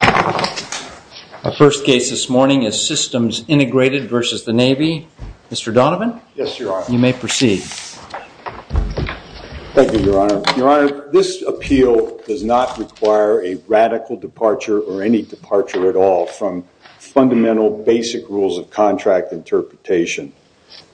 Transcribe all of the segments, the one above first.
Our first case this morning is Systems Integrated versus the Navy. Mr. Donovan? Yes, Your Honor. You may proceed. Thank you, Your Honor. Your Honor, this appeal does not require a radical departure or any departure at all from fundamental basic rules of contract interpretation.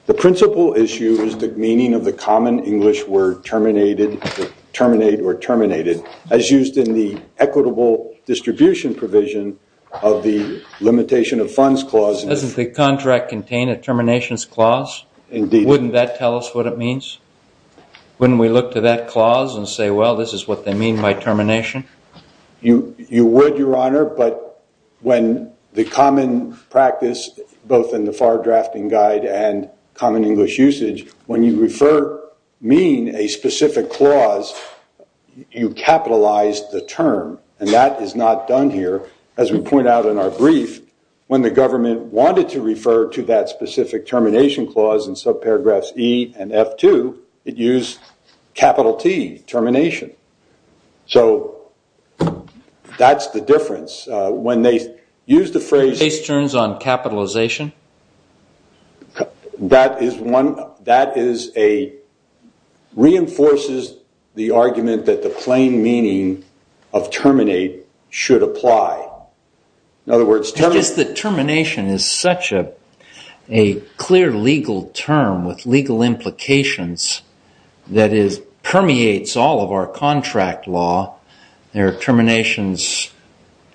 The principal issue is the meaning of the common English word terminate or terminated as used in the equitable distribution provision of the limitation of funds clause. Doesn't the contract contain a terminations clause? Indeed. Wouldn't that tell us what it means? Wouldn't we look to that clause and say, well, this is what they mean by termination? You would, Your Honor, but when the common practice, both in the FAR drafting guide and common English usage, when you refer mean a specific clause, you capitalize the term. And that is not done here. As we point out in our brief, when the government wanted to refer to that specific termination clause in subparagraphs E and F2, it used capital T, termination. So that's the difference. When they use the phrase- Case terms on capitalization? That is one- that is a- reinforces the argument that the plain meaning of terminate should apply. In other words- Just the termination is such a clear legal term with legal implications that it permeates all of our contract law. There are terminations,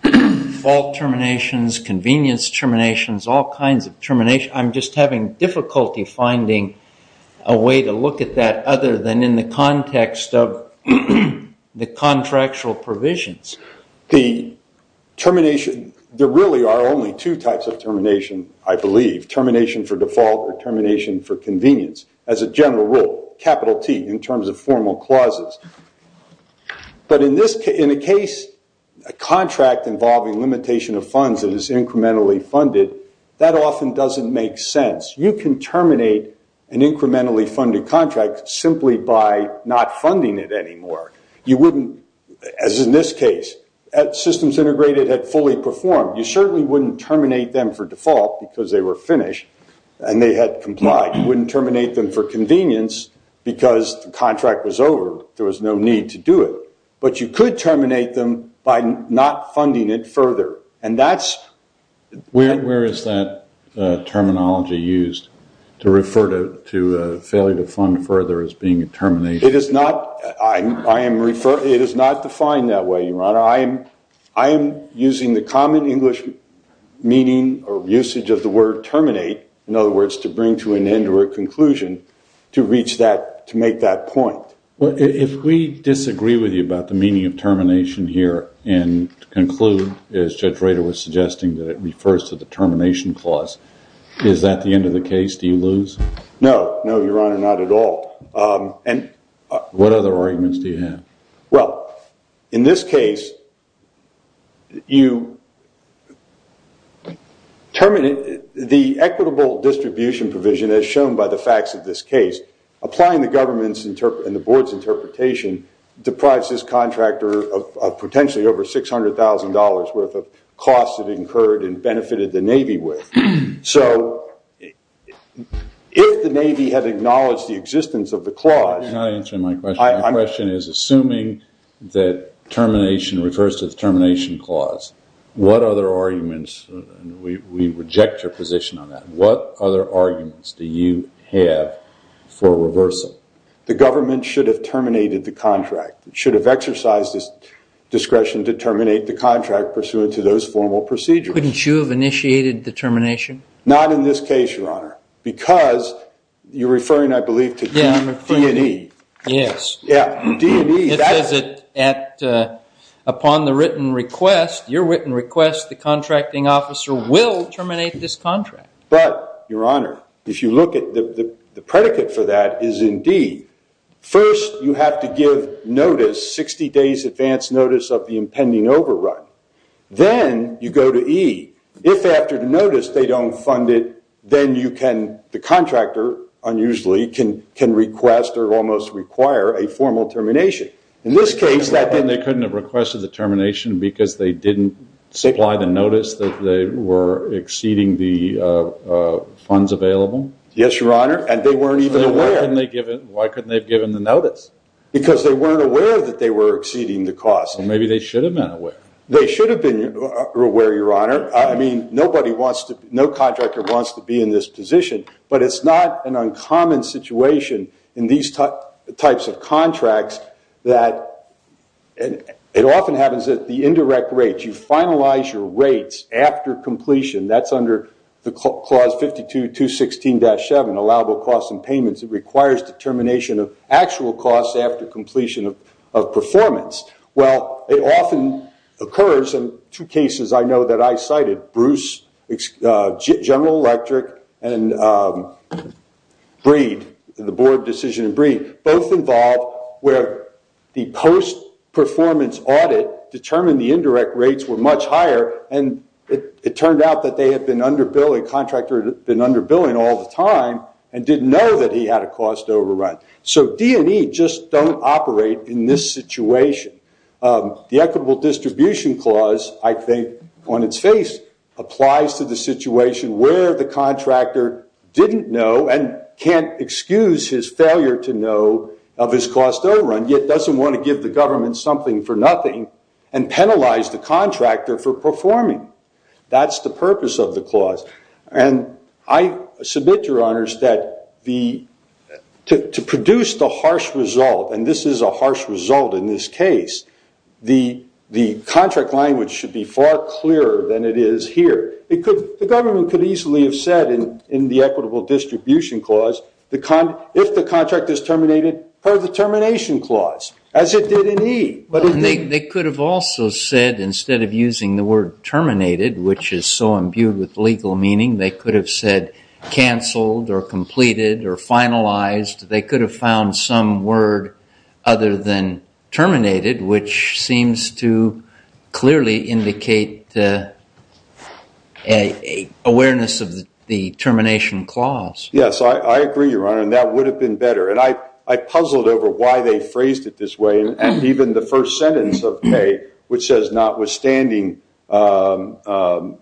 fault terminations, convenience terminations, all kinds of terminations. I'm just having difficulty finding a way to look at that other than in the context of the contractual provisions. The termination- there really are only two types of termination, I believe. Termination for default or termination for convenience. As a general rule, capital T in terms of formal clauses. But in this- in a case, a contract involving limitation of funds that is incrementally funded, that often doesn't make sense. You can terminate an incrementally funded contract simply by not funding it anymore. You wouldn't- as in this case, systems integrated had fully performed. You certainly wouldn't terminate them for default because they were finished and they had complied. You wouldn't terminate them for convenience because the contract was over. There was no need to do it. But you could terminate them by not funding it further. And that's- Where is that terminology used to refer to a failure to fund further as being a termination? It is not- I am referring- it is not defined that way, Your Honor. I am using the common English meaning or usage of the word terminate, in other words, to bring to an end or a conclusion to reach that- to make that point. Well, if we disagree with you about the meaning of termination here and conclude, as Judge Rader was suggesting, that it refers to the termination clause, is that the end of the case? Do you lose? No. No, Your Honor. Not at all. What other arguments do you have? Well, in this case, you terminate- the equitable distribution provision, as shown by the facts of this case, applying the government's and the board's interpretation, deprives this contractor of potentially over $600,000 worth of costs it incurred and benefited the Navy with. So if the Navy had acknowledged the existence of the clause- You're not answering my question. My question is, assuming that termination refers to the termination clause, what other arguments- we reject your position on that. What other arguments do you have for reversal? The government should have terminated the contract. It should have exercised its discretion to terminate the contract pursuant to those formal procedures. Couldn't you have initiated the termination? Not in this case, Your Honor, because you're referring, I believe, to D and E. Yes. Yeah, D and E. It says that upon the written request, your written request, the contracting officer will terminate this contract. But, Your Honor, if you look at the predicate for that is in D. First, you have to give notice, 60 days advance notice of the impending overrun. Then you go to E. If after the notice they don't fund it, then you can- the contractor, unusually, can request or almost require a formal termination. In this case- Then they couldn't have requested the termination because they didn't supply the notice that they were exceeding the funds available? Yes, Your Honor, and they weren't even aware. Why couldn't they have given the notice? Because they weren't aware that they were exceeding the cost. Maybe they should have been aware. They should have been aware, Your Honor. I mean, nobody wants to- no contractor wants to be in this position. But it's not an uncommon situation in these types of contracts that it often happens that the indirect rates, you finalize your rates after completion. That's under the Clause 52-216-7, allowable costs and payments. It requires determination of actual costs after completion of performance. Well, it often occurs in two cases I know that I cited. Bruce, General Electric, and Breed, the Board of Decision and Breed, both involved where the post-performance audit determined the indirect rates were much higher, and it turned out that they had been under-billing, the contractor had been under-billing all the time and didn't know that he had a cost overrun. So D&E just don't operate in this situation. The Equitable Distribution Clause, I think, on its face, applies to the situation where the contractor didn't know and can't excuse his failure to know of his cost overrun, yet doesn't want to give the government something for nothing and penalize the contractor for performing. That's the purpose of the clause. And I submit, Your Honors, that to produce the harsh result, and this is a harsh result in this case, the contract language should be far clearer than it is here. The government could easily have said in the Equitable Distribution Clause, if the contract is terminated, per the termination clause, as it did in E. They could have also said, instead of using the word terminated, which is so imbued with legal meaning, they could have said canceled or completed or finalized. They could have found some word other than terminated, which seems to clearly indicate awareness of the termination clause. Yes, I agree, Your Honor, and that would have been better. And I puzzled over why they phrased it this way. And even the first sentence of K, which says, notwithstanding or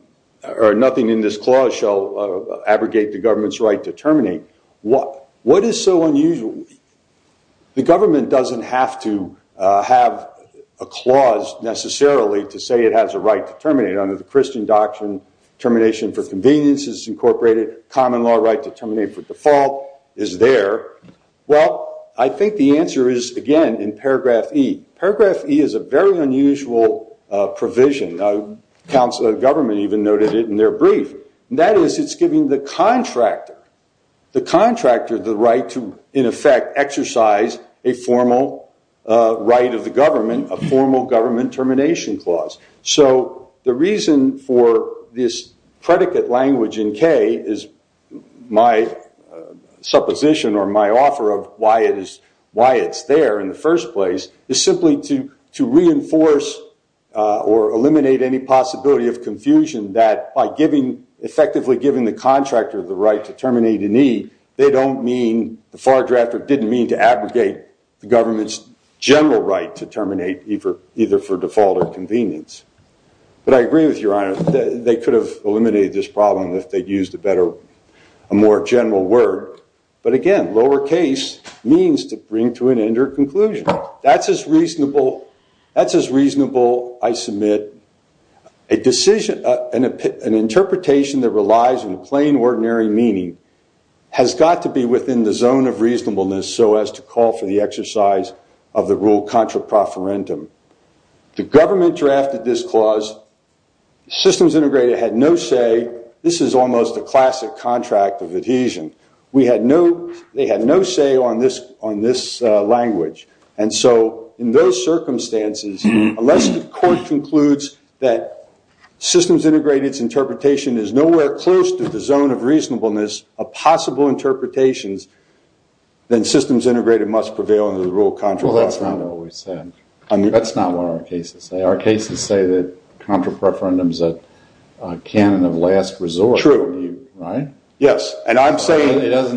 nothing in this clause shall abrogate the government's right to terminate. What is so unusual? The government doesn't have to have a clause necessarily to say it has a right to terminate. Under the Christian doctrine, termination for convenience is incorporated. Common law right to terminate for default is there. Well, I think the answer is, again, in paragraph E. Paragraph E is a very unusual provision. The Council of Government even noted it in their brief. That is, it's giving the contractor the right to, in effect, exercise a formal right of the government, a formal government termination clause. So the reason for this predicate language in K is my supposition or my offer of why it's there in the first place, is simply to reinforce or eliminate any possibility of confusion that by effectively giving the contractor the right to terminate in E, the far drafter didn't mean to abrogate the government's general right to terminate, either for default or convenience. But I agree with you, Your Honor, that they could have eliminated this problem if they'd used a better, a more general word. But, again, lowercase means to bring to an end or conclusion. That's as reasonable, I submit, an interpretation that relies on plain, ordinary meaning has got to be within the zone of reasonableness so as to call for the exercise of the rule contra proferentum. The government drafted this clause. Systems Integrated had no say. This is almost a classic contract of adhesion. They had no say on this language. And so in those circumstances, unless the court concludes that Systems Integrated's interpretation is nowhere close to the zone of reasonableness of possible interpretations, then Systems Integrated must prevail under the rule contra proferentum. Well, that's not what we said. That's not what our cases say. Our cases say that contra proferentum is a canon of last resort. True. Right? Yes. It doesn't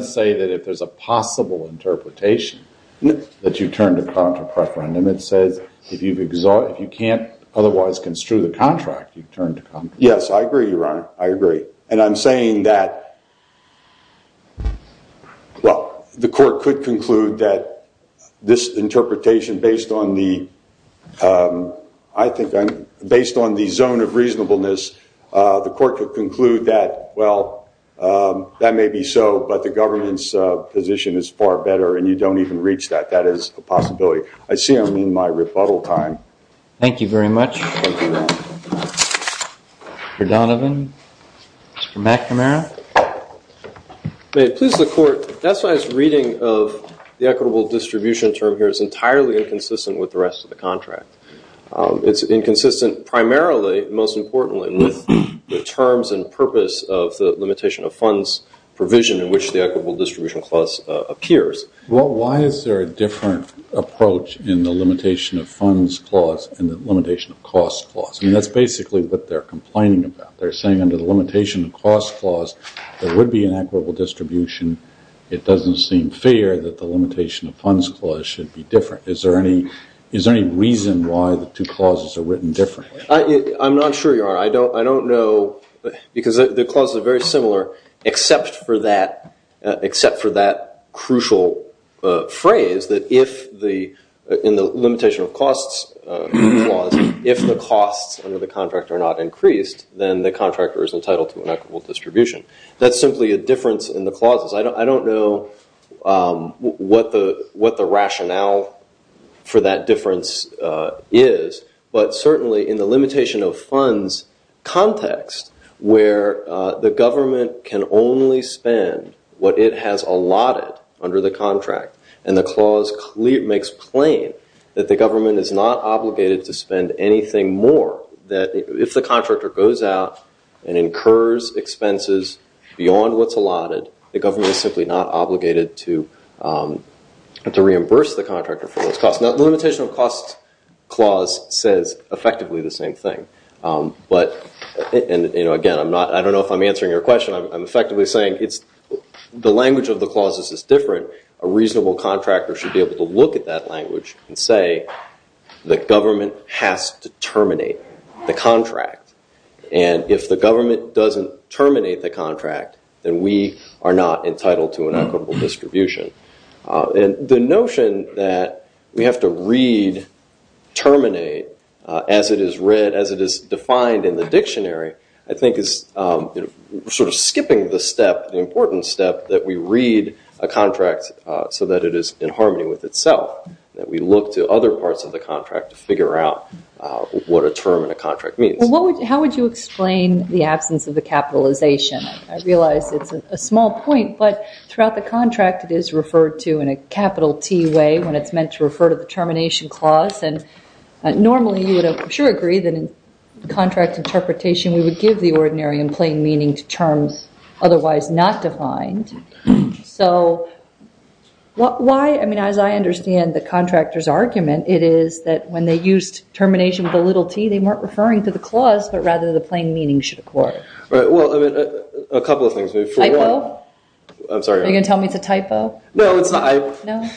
say that if there's a possible interpretation that you turn to contra proferentum. It says if you can't otherwise construe the contract, you turn to contra proferentum. Yes, I agree, Your Honor. I agree. And I'm saying that, well, the court could conclude that this interpretation, based on the zone of reasonableness, the court could conclude that, well, that may be so, but the government's position is far better and you don't even reach that. That is a possibility. I see I'm in my rebuttal time. Thank you very much. Thank you, Your Honor. Mr. Donovan? Mr. McNamara? May it please the court, that's why this reading of the equitable distribution term here is entirely inconsistent with the rest of the contract. It's inconsistent primarily, most importantly, with the terms and purpose of the limitation of funds provision in which the equitable distribution clause appears. Well, why is there a different approach in the limitation of funds clause and the limitation of cost clause? I mean, that's basically what they're complaining about. They're saying under the limitation of cost clause, there would be an equitable distribution. It doesn't seem fair that the limitation of funds clause should be different. Is there any reason why the two clauses are written differently? I'm not sure, Your Honor. I don't know, because the clauses are very similar, except for that crucial phrase that in the limitation of costs clause, if the costs under the contract are not increased, then the contractor is entitled to an equitable distribution. That's simply a difference in the clauses. I don't know what the rationale for that difference is, but certainly in the limitation of funds context where the government can only spend what it has allotted under the contract and the clause makes plain that the government is not obligated to spend anything more, that if the contractor goes out and incurs expenses beyond what's allotted, the government is simply not obligated to reimburse the contractor for those costs. The limitation of costs clause says effectively the same thing. Again, I don't know if I'm answering your question. I'm effectively saying the language of the clauses is different. A reasonable contractor should be able to look at that language and say the government has to terminate the contract, and if the government doesn't terminate the contract, then we are not entitled to an equitable distribution. The notion that we have to read terminate as it is defined in the dictionary I think is sort of skipping the step, the important step that we read a contract so that it is in harmony with itself, that we look to other parts of the contract to figure out what a term in a contract means. How would you explain the absence of the capitalization? I realize it's a small point, but throughout the contract it is referred to in a capital T way when it's meant to refer to the termination clause, and normally you would I'm sure agree that in contract interpretation we would give the ordinary and plain meaning to terms otherwise not defined. So why, I mean, as I understand the contractor's argument, it is that when they used termination with a little t, they weren't referring to the clause, but rather the plain meaning should occur. Well, a couple of things. Typo? I'm sorry. Are you going to tell me it's a typo? No, it's not. No?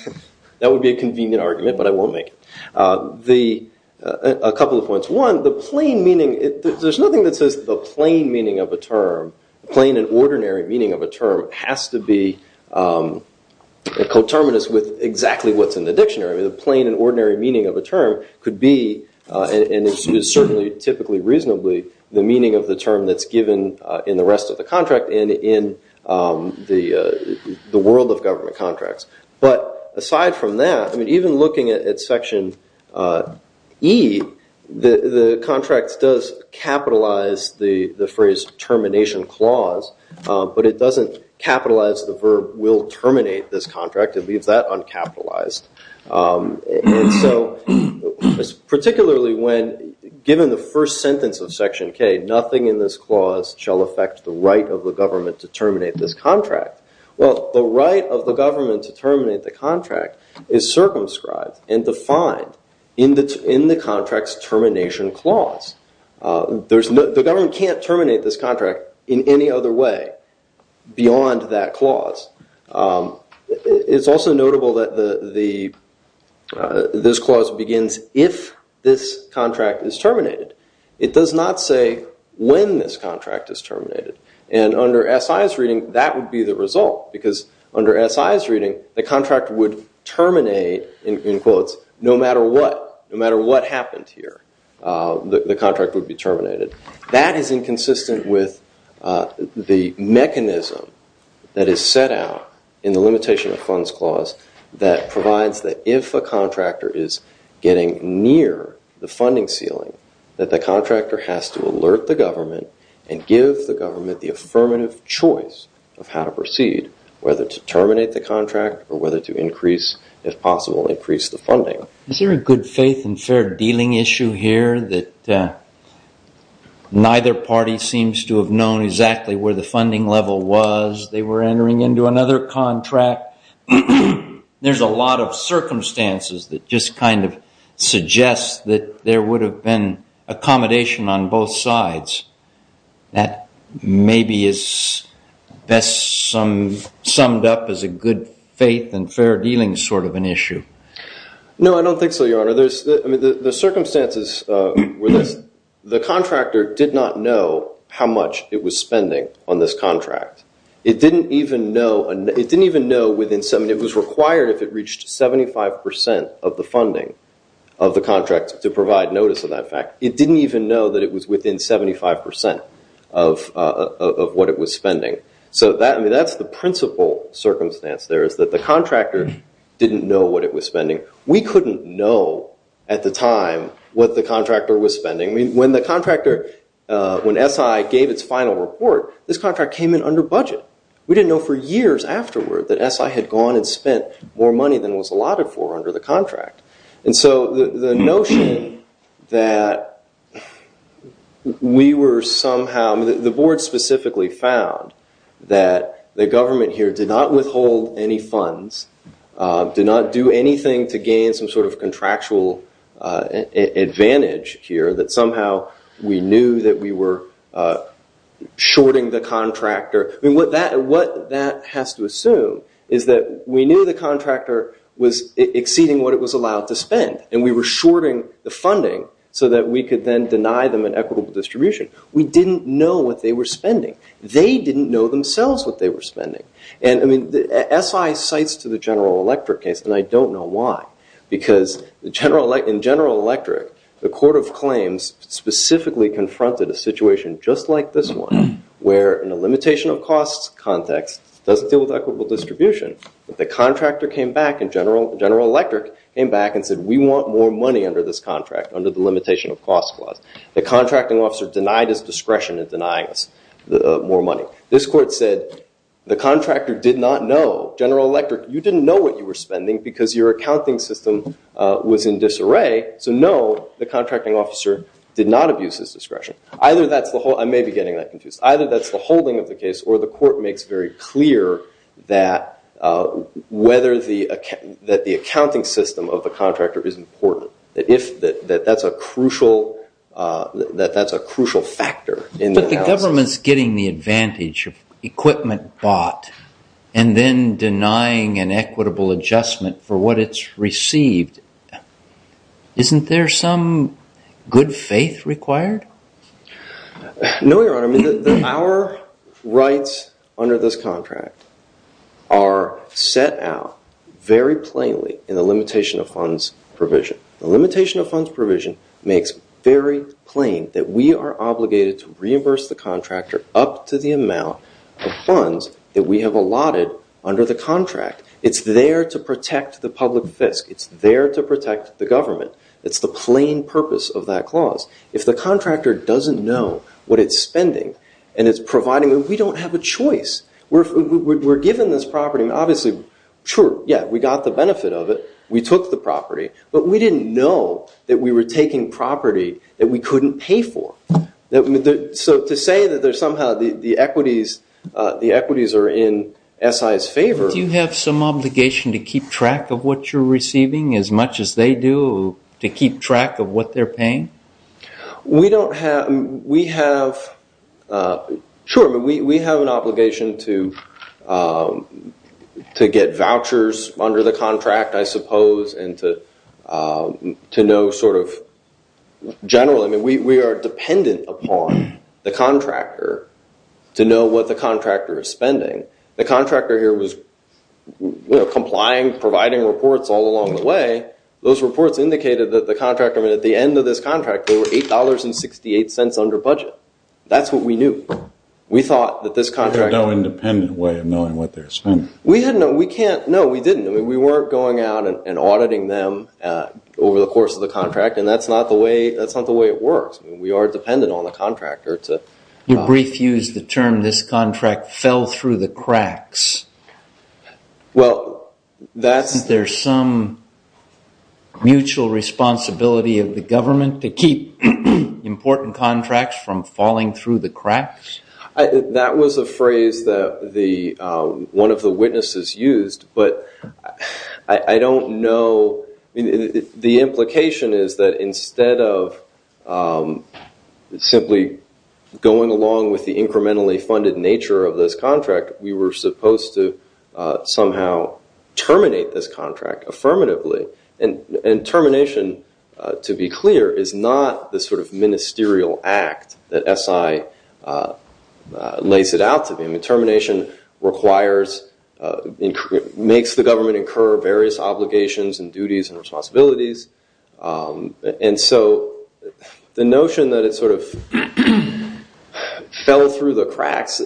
That would be a convenient argument, but I won't make it. A couple of points. One, the plain meaning, there's nothing that says the plain meaning of a term, plain and ordinary meaning of a term has to be coterminous with exactly what's in the dictionary. The plain and ordinary meaning of a term could be, and is certainly typically reasonably the meaning of the term that's given in the rest of the contract and in the world of government contracts. But aside from that, I mean, even looking at Section E, the contract does capitalize the phrase termination clause, but it doesn't capitalize the verb will terminate this contract. It leaves that uncapitalized. And so, particularly when given the first sentence of Section K, nothing in this clause shall affect the right of the government to terminate this contract. Well, the right of the government to terminate the contract is circumscribed and defined in the contract's termination clause. The government can't terminate this contract in any other way beyond that clause. It's also notable that this clause begins if this contract is terminated. It does not say when this contract is terminated. And under S.I.'s reading, that would be the result because under S.I.'s reading, the contract would terminate, in quotes, no matter what, no matter what happened here, the contract would be terminated. That is inconsistent with the mechanism that is set out in the limitation of funds clause that provides that if a contractor is getting near the funding ceiling, that the contractor has to alert the government and give the government the affirmative choice of how to proceed, whether to terminate the contract or whether to increase, if possible, increase the funding. Is there a good faith and fair dealing issue here that neither party seems to have known exactly where the funding level was, they were entering into another contract? There's a lot of circumstances that just kind of suggest that there would have been accommodation on both sides. That maybe is best summed up as a good faith and fair dealing sort of an issue. No, I don't think so, Your Honor. I mean, the circumstances were this. The contractor did not know how much it was spending on this contract. It didn't even know, it was required if it reached 75% of the funding of the contract to provide notice of that fact. It didn't even know that it was within 75% of what it was spending. That's the principal circumstance there is that the contractor didn't know what it was spending. We couldn't know at the time what the contractor was spending. When the contractor, when SI gave its final report, this contract came in under budget. We didn't know for years afterward that SI had gone and spent more money than was allotted for under the contract. The notion that we were somehow, the board specifically found that the government here did not withhold any funds, did not do anything to gain some sort of contractual advantage here, that somehow we knew that we were shorting the contractor. What that has to assume is that we knew the contractor was exceeding what it was allowed to spend, and we were shorting the funding so that we could then deny them an equitable distribution. We didn't know what they were spending. They didn't know themselves what they were spending. SI cites to the General Electric case, and I don't know why, because in General Electric, the court of claims specifically confronted a situation just like this one, where in a limitation of costs context, it doesn't deal with equitable distribution, but the contractor came back, and General Electric came back and said, we want more money under this contract, under the limitation of costs clause. The contracting officer denied his discretion in denying us more money. This court said the contractor did not know, General Electric, you didn't know what you were spending because your accounting system was in disarray, so no, the contracting officer did not abuse his discretion. I may be getting that confused. Either that's the holding of the case, or the court makes very clear that the accounting system of the contractor is important, that that's a crucial factor in the analysis. But the government's getting the advantage of equipment bought Isn't there some good faith required? No, Your Honor. Our rights under this contract are set out very plainly in the limitation of funds provision. The limitation of funds provision makes very plain that we are obligated to reimburse the contractor up to the amount of funds that we have allotted under the contract. It's there to protect the public fisc. It's there to protect the government. It's the plain purpose of that clause. If the contractor doesn't know what it's spending, and it's providing, we don't have a choice. We're given this property. Obviously, sure, yeah, we got the benefit of it. We took the property. But we didn't know that we were taking property that we couldn't pay for. So to say that somehow the equities are in SI's favor. Don't you have some obligation to keep track of what you're receiving as much as they do, to keep track of what they're paying? We have an obligation to get vouchers under the contract, I suppose, and to know sort of generally. We are dependent upon the contractor to know what the contractor is spending. The contractor here was complying, providing reports all along the way. Those reports indicated that the contractor, at the end of this contract, they were $8.68 under budget. That's what we knew. We thought that this contractor. They had no independent way of knowing what they were spending. No, we didn't. We weren't going out and auditing them over the course of the contract, and that's not the way it works. We are dependent on the contractor. You briefly used the term, this contract fell through the cracks. Well, that's. Is there some mutual responsibility of the government to keep important contracts from falling through the cracks? That was a phrase that one of the witnesses used, but I don't know. The implication is that instead of simply going along with the incrementally funded nature of this contract, we were supposed to somehow terminate this contract affirmatively. Termination, to be clear, is not the sort of ministerial act that SI lays it out to be. Termination requires, makes the government incur various obligations and duties and responsibilities, and so the notion that it sort of fell through the cracks,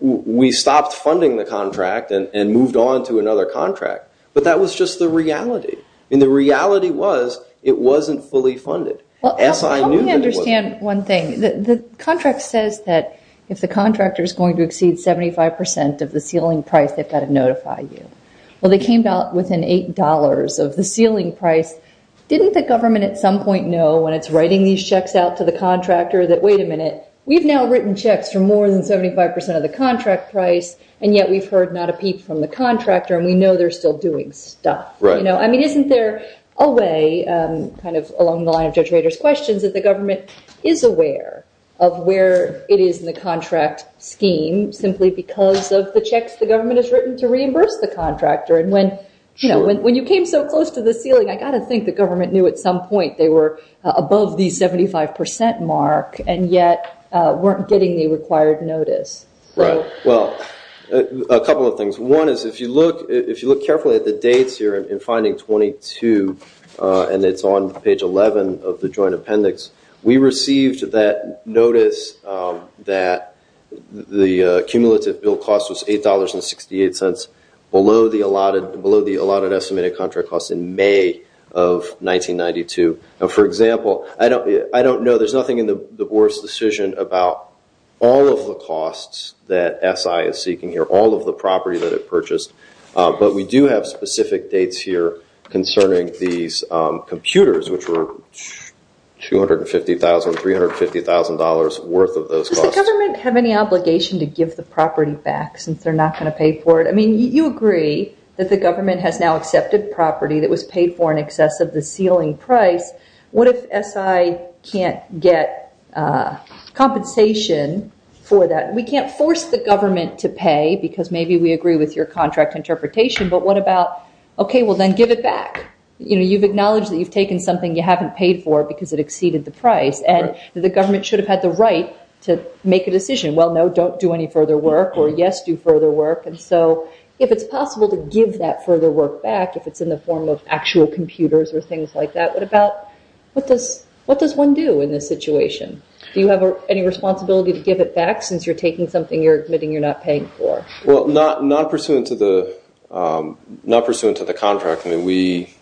we stopped funding the contract and moved on to another contract, but that was just the reality, and the reality was it wasn't fully funded. SI knew that it wasn't. I understand one thing. The contract says that if the contractor is going to exceed 75 percent of the ceiling price, they've got to notify you. Well, they came within $8 of the ceiling price. Didn't the government at some point know when it's writing these checks out to the contractor that, wait a minute, we've now written checks for more than 75 percent of the contract price, and yet we've heard not a peep from the contractor and we know they're still doing stuff? I mean, isn't there a way kind of along the line of Judge Rader's questions that the government is aware of where it is in the contract scheme simply because of the checks the government has written to reimburse the contractor, and when you came so close to the ceiling, I've got to think the government knew at some point they were above the 75 percent mark and yet weren't getting the required notice. Right. Well, a couple of things. One is if you look carefully at the dates here in finding 22, and it's on page 11 of the joint appendix, we received that notice that the cumulative bill cost was $8.68 below the allotted estimated contract cost in May of 1992. For example, I don't know. There's nothing in the board's decision about all of the costs that SI is seeking here, all of the property that it purchased, but we do have specific dates here concerning these computers, which were $250,000, $350,000 worth of those costs. Does the government have any obligation to give the property back since they're not going to pay for it? I mean, you agree that the government has now accepted property that was paid for in excess of the ceiling price. What if SI can't get compensation for that? We can't force the government to pay because maybe we agree with your contract interpretation, but what about, okay, well, then give it back. You've acknowledged that you've taken something you haven't paid for because it exceeded the price, and the government should have had the right to make a decision. Well, no, don't do any further work, or yes, do further work. And so if it's possible to give that further work back, if it's in the form of actual computers or things like that, what does one do in this situation? Do you have any responsibility to give it back since you're taking something you're admitting you're not paying for? Well, not pursuant to the contract. I mean, we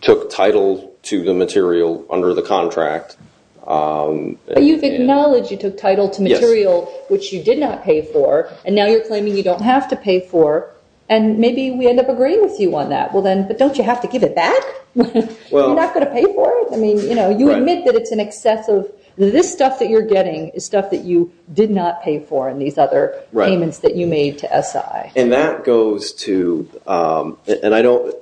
took title to the material under the contract. But you've acknowledged you took title to material which you did not pay for, and now you're claiming you don't have to pay for, and maybe we end up agreeing with you on that. Well, then, but don't you have to give it back? You're not going to pay for it? I mean, you admit that it's in excess of this stuff that you're getting is stuff that you did not pay for in these other payments that you made to SI. And that goes to, and I don't,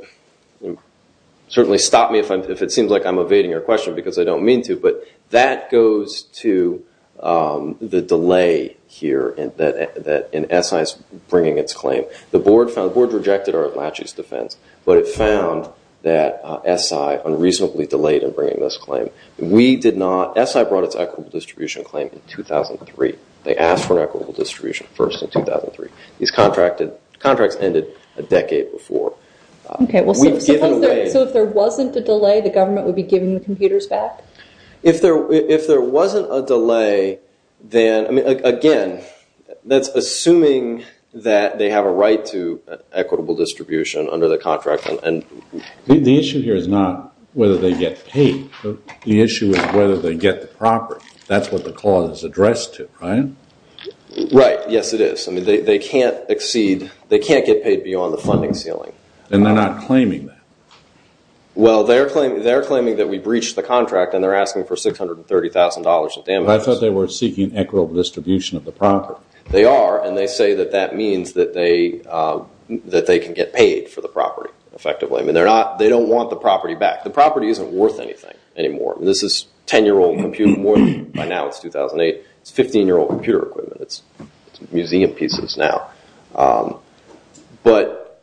certainly stop me if it seems like I'm evading your question because I don't mean to, but that goes to the delay here that SI is bringing its claim. The board rejected our latches defense, but it found that SI unreasonably delayed in bringing this claim. We did not, SI brought its equitable distribution claim in 2003. They asked for an equitable distribution first in 2003. These contracts ended a decade before. Okay, so if there wasn't a delay, the government would be giving the computers back? If there wasn't a delay, then, I mean, again, that's assuming that they have a right to equitable distribution under the contract. The issue here is not whether they get paid. The issue is whether they get the property. That's what the clause is addressed to, right? Right, yes, it is. I mean, they can't exceed, they can't get paid beyond the funding ceiling. And they're not claiming that? Well, they're claiming that we breached the contract, and they're asking for $630,000 in damages. I thought they were seeking equitable distribution of the property. They are, and they say that that means that they can get paid for the property, effectively. I mean, they don't want the property back. The property isn't worth anything anymore. This is 10-year-old computers. By now it's 2008. It's 15-year-old computer equipment. It's museum pieces now. But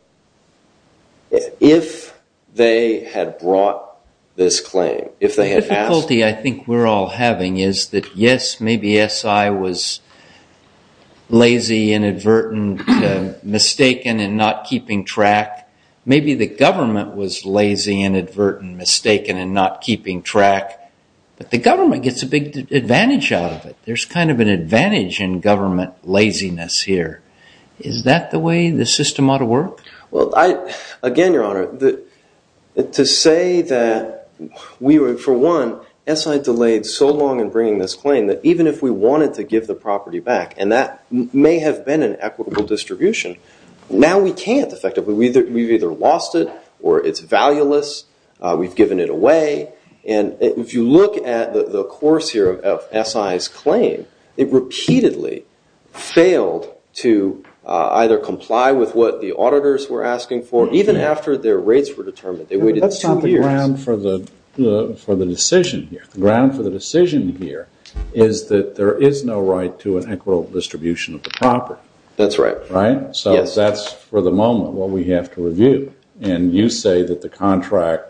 if they had brought this claim, if they had asked... The difficulty I think we're all having is that, yes, maybe SI was lazy, inadvertent, mistaken, and not keeping track. Maybe the government was lazy, inadvertent, mistaken, and not keeping track. But the government gets a big advantage out of it. There's kind of an advantage in government laziness here. Is that the way the system ought to work? Well, again, Your Honor, to say that we were, for one, SI delayed so long in bringing this claim that even if we wanted to give the property back, and that may have been an equitable distribution, now we can't effectively. We've either lost it or it's valueless. We've given it away. If you look at the course here of SI's claim, it repeatedly failed to either comply with what the auditors were asking for, even after their rates were determined. They waited two years. That's not the ground for the decision here. The ground for the decision here is that there is no right to an equitable distribution of the property. That's right. Right? So that's, for the moment, what we have to review. And you say that the contract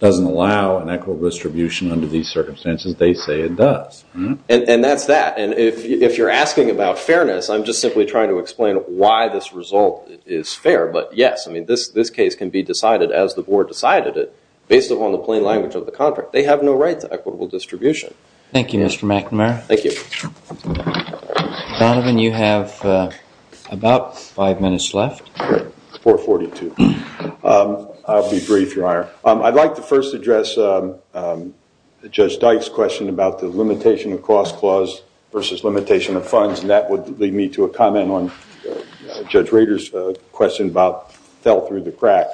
doesn't allow an equitable distribution under these circumstances. They say it does. And that's that. And if you're asking about fairness, I'm just simply trying to explain why this result is fair. But, yes, I mean, this case can be decided as the board decided it based upon the plain language of the contract. They have no right to equitable distribution. Thank you, Mr. McNamara. Thank you. Donovan, you have about five minutes left. It's 4.42. I'll be brief. I'd like to first address Judge Dyke's question about the limitation of cost clause versus limitation of funds, and that would lead me to a comment on Judge Rader's question about fell through the crack.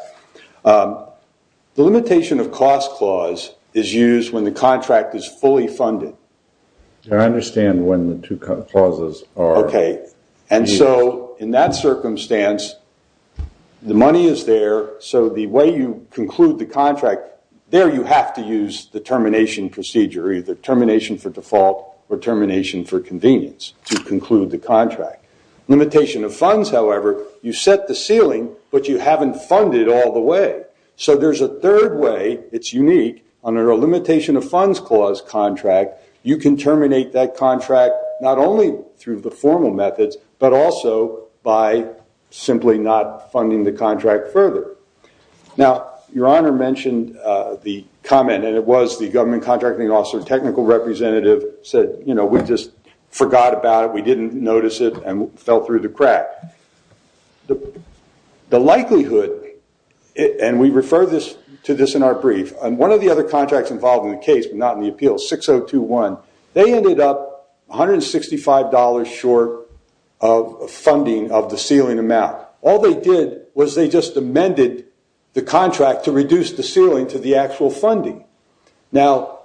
The limitation of cost clause is used when the contract is fully funded. I understand when the two clauses are. Okay. And so, in that circumstance, the money is there, so the way you conclude the contract, there you have to use the termination procedure, either termination for default or termination for convenience to conclude the contract. Limitation of funds, however, you set the ceiling, but you haven't funded all the way. So there's a third way. It's unique. Under a limitation of funds clause contract, you can terminate that contract not only through the formal methods, but also by simply not funding the contract further. Now, Your Honor mentioned the comment, and it was the government contracting officer technical representative said, you know, we just forgot about it, we didn't notice it, and fell through the crack. The likelihood, and we refer to this in our brief, one of the other contracts involved in the case, but not in the appeal, 6021, they ended up $165 short of funding of the ceiling amount. All they did was they just amended the contract to reduce the ceiling to the actual funding. Now,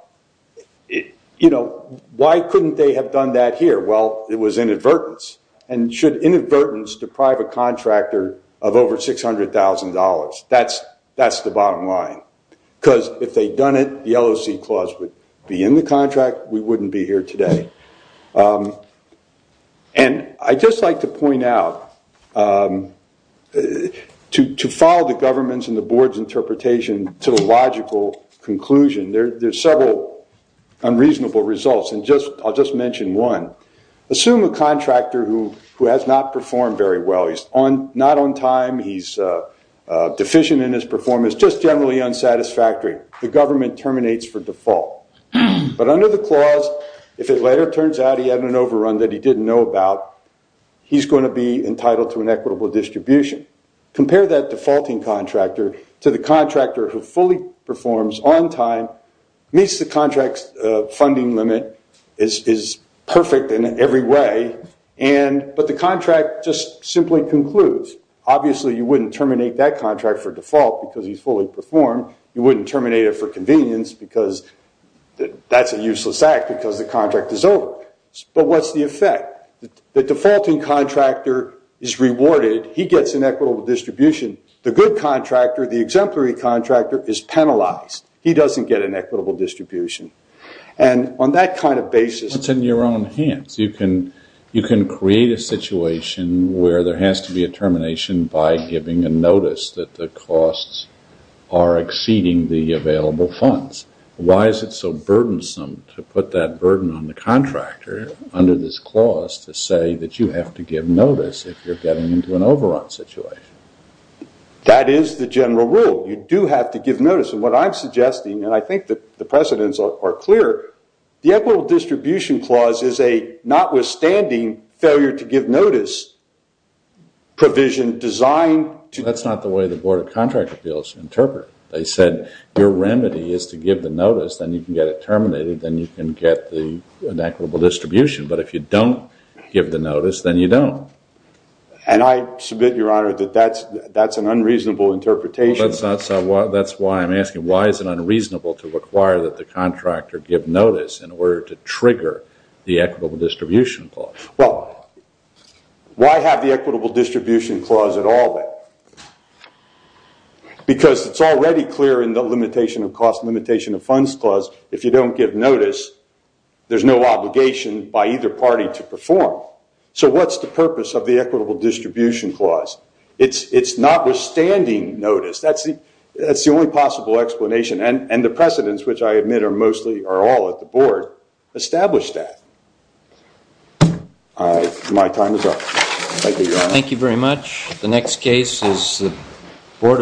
you know, why couldn't they have done that here? Well, it was inadvertence, and should inadvertence deprive a contractor of over $600,000? That's the bottom line. Because if they'd done it, the LOC clause would be in the contract. We wouldn't be here today. And I'd just like to point out, to follow the government's and the board's interpretation to the logical conclusion, there's several unreasonable results, and I'll just mention one. Assume a contractor who has not performed very well. He's not on time, he's deficient in his performance, just generally unsatisfactory. The government terminates for default. But under the clause, if it later turns out he had an overrun that he didn't know about, he's going to be entitled to an equitable distribution. Compare that defaulting contractor to the contractor who fully performs on time, meets the contract's funding limit, is perfect in every way, but the contract just simply concludes. Obviously, you wouldn't terminate that contract for default because he's fully performed. You wouldn't terminate it for convenience because that's a useless act because the contract is over. But what's the effect? The defaulting contractor is rewarded. He gets an equitable distribution. The good contractor, the exemplary contractor, is penalized. He doesn't get an equitable distribution. On that kind of basis... It's in your own hands. You can create a situation where there has to be a termination by giving a notice that the costs are exceeding the available funds. Why is it so burdensome to put that burden on the contractor under this clause to say that you have to give notice if you're getting into an overrun situation? That is the general rule. You do have to give notice. And what I'm suggesting, and I think the precedents are clear, the equitable distribution clause is a notwithstanding failure to give notice provision designed to... That's not the way the Board of Contract Appeals interpret it. They said your remedy is to give the notice, then you can get it terminated, then you can get an equitable distribution. But if you don't give the notice, then you don't. And I submit, Your Honor, that that's an unreasonable interpretation. That's why I'm asking, why is it unreasonable to require that the contractor give notice in order to trigger the equitable distribution clause? Well, why have the equitable distribution clause at all then? Because it's already clear in the limitation of costs, limitation of funds clause, if you don't give notice, there's no obligation by either party to perform. So what's the purpose of the equitable distribution clause? It's notwithstanding notice. That's the only possible explanation. And the precedents, which I admit are mostly or all at the Board, establish that. My time is up. Thank you, Your Honor. The next case is the Board of...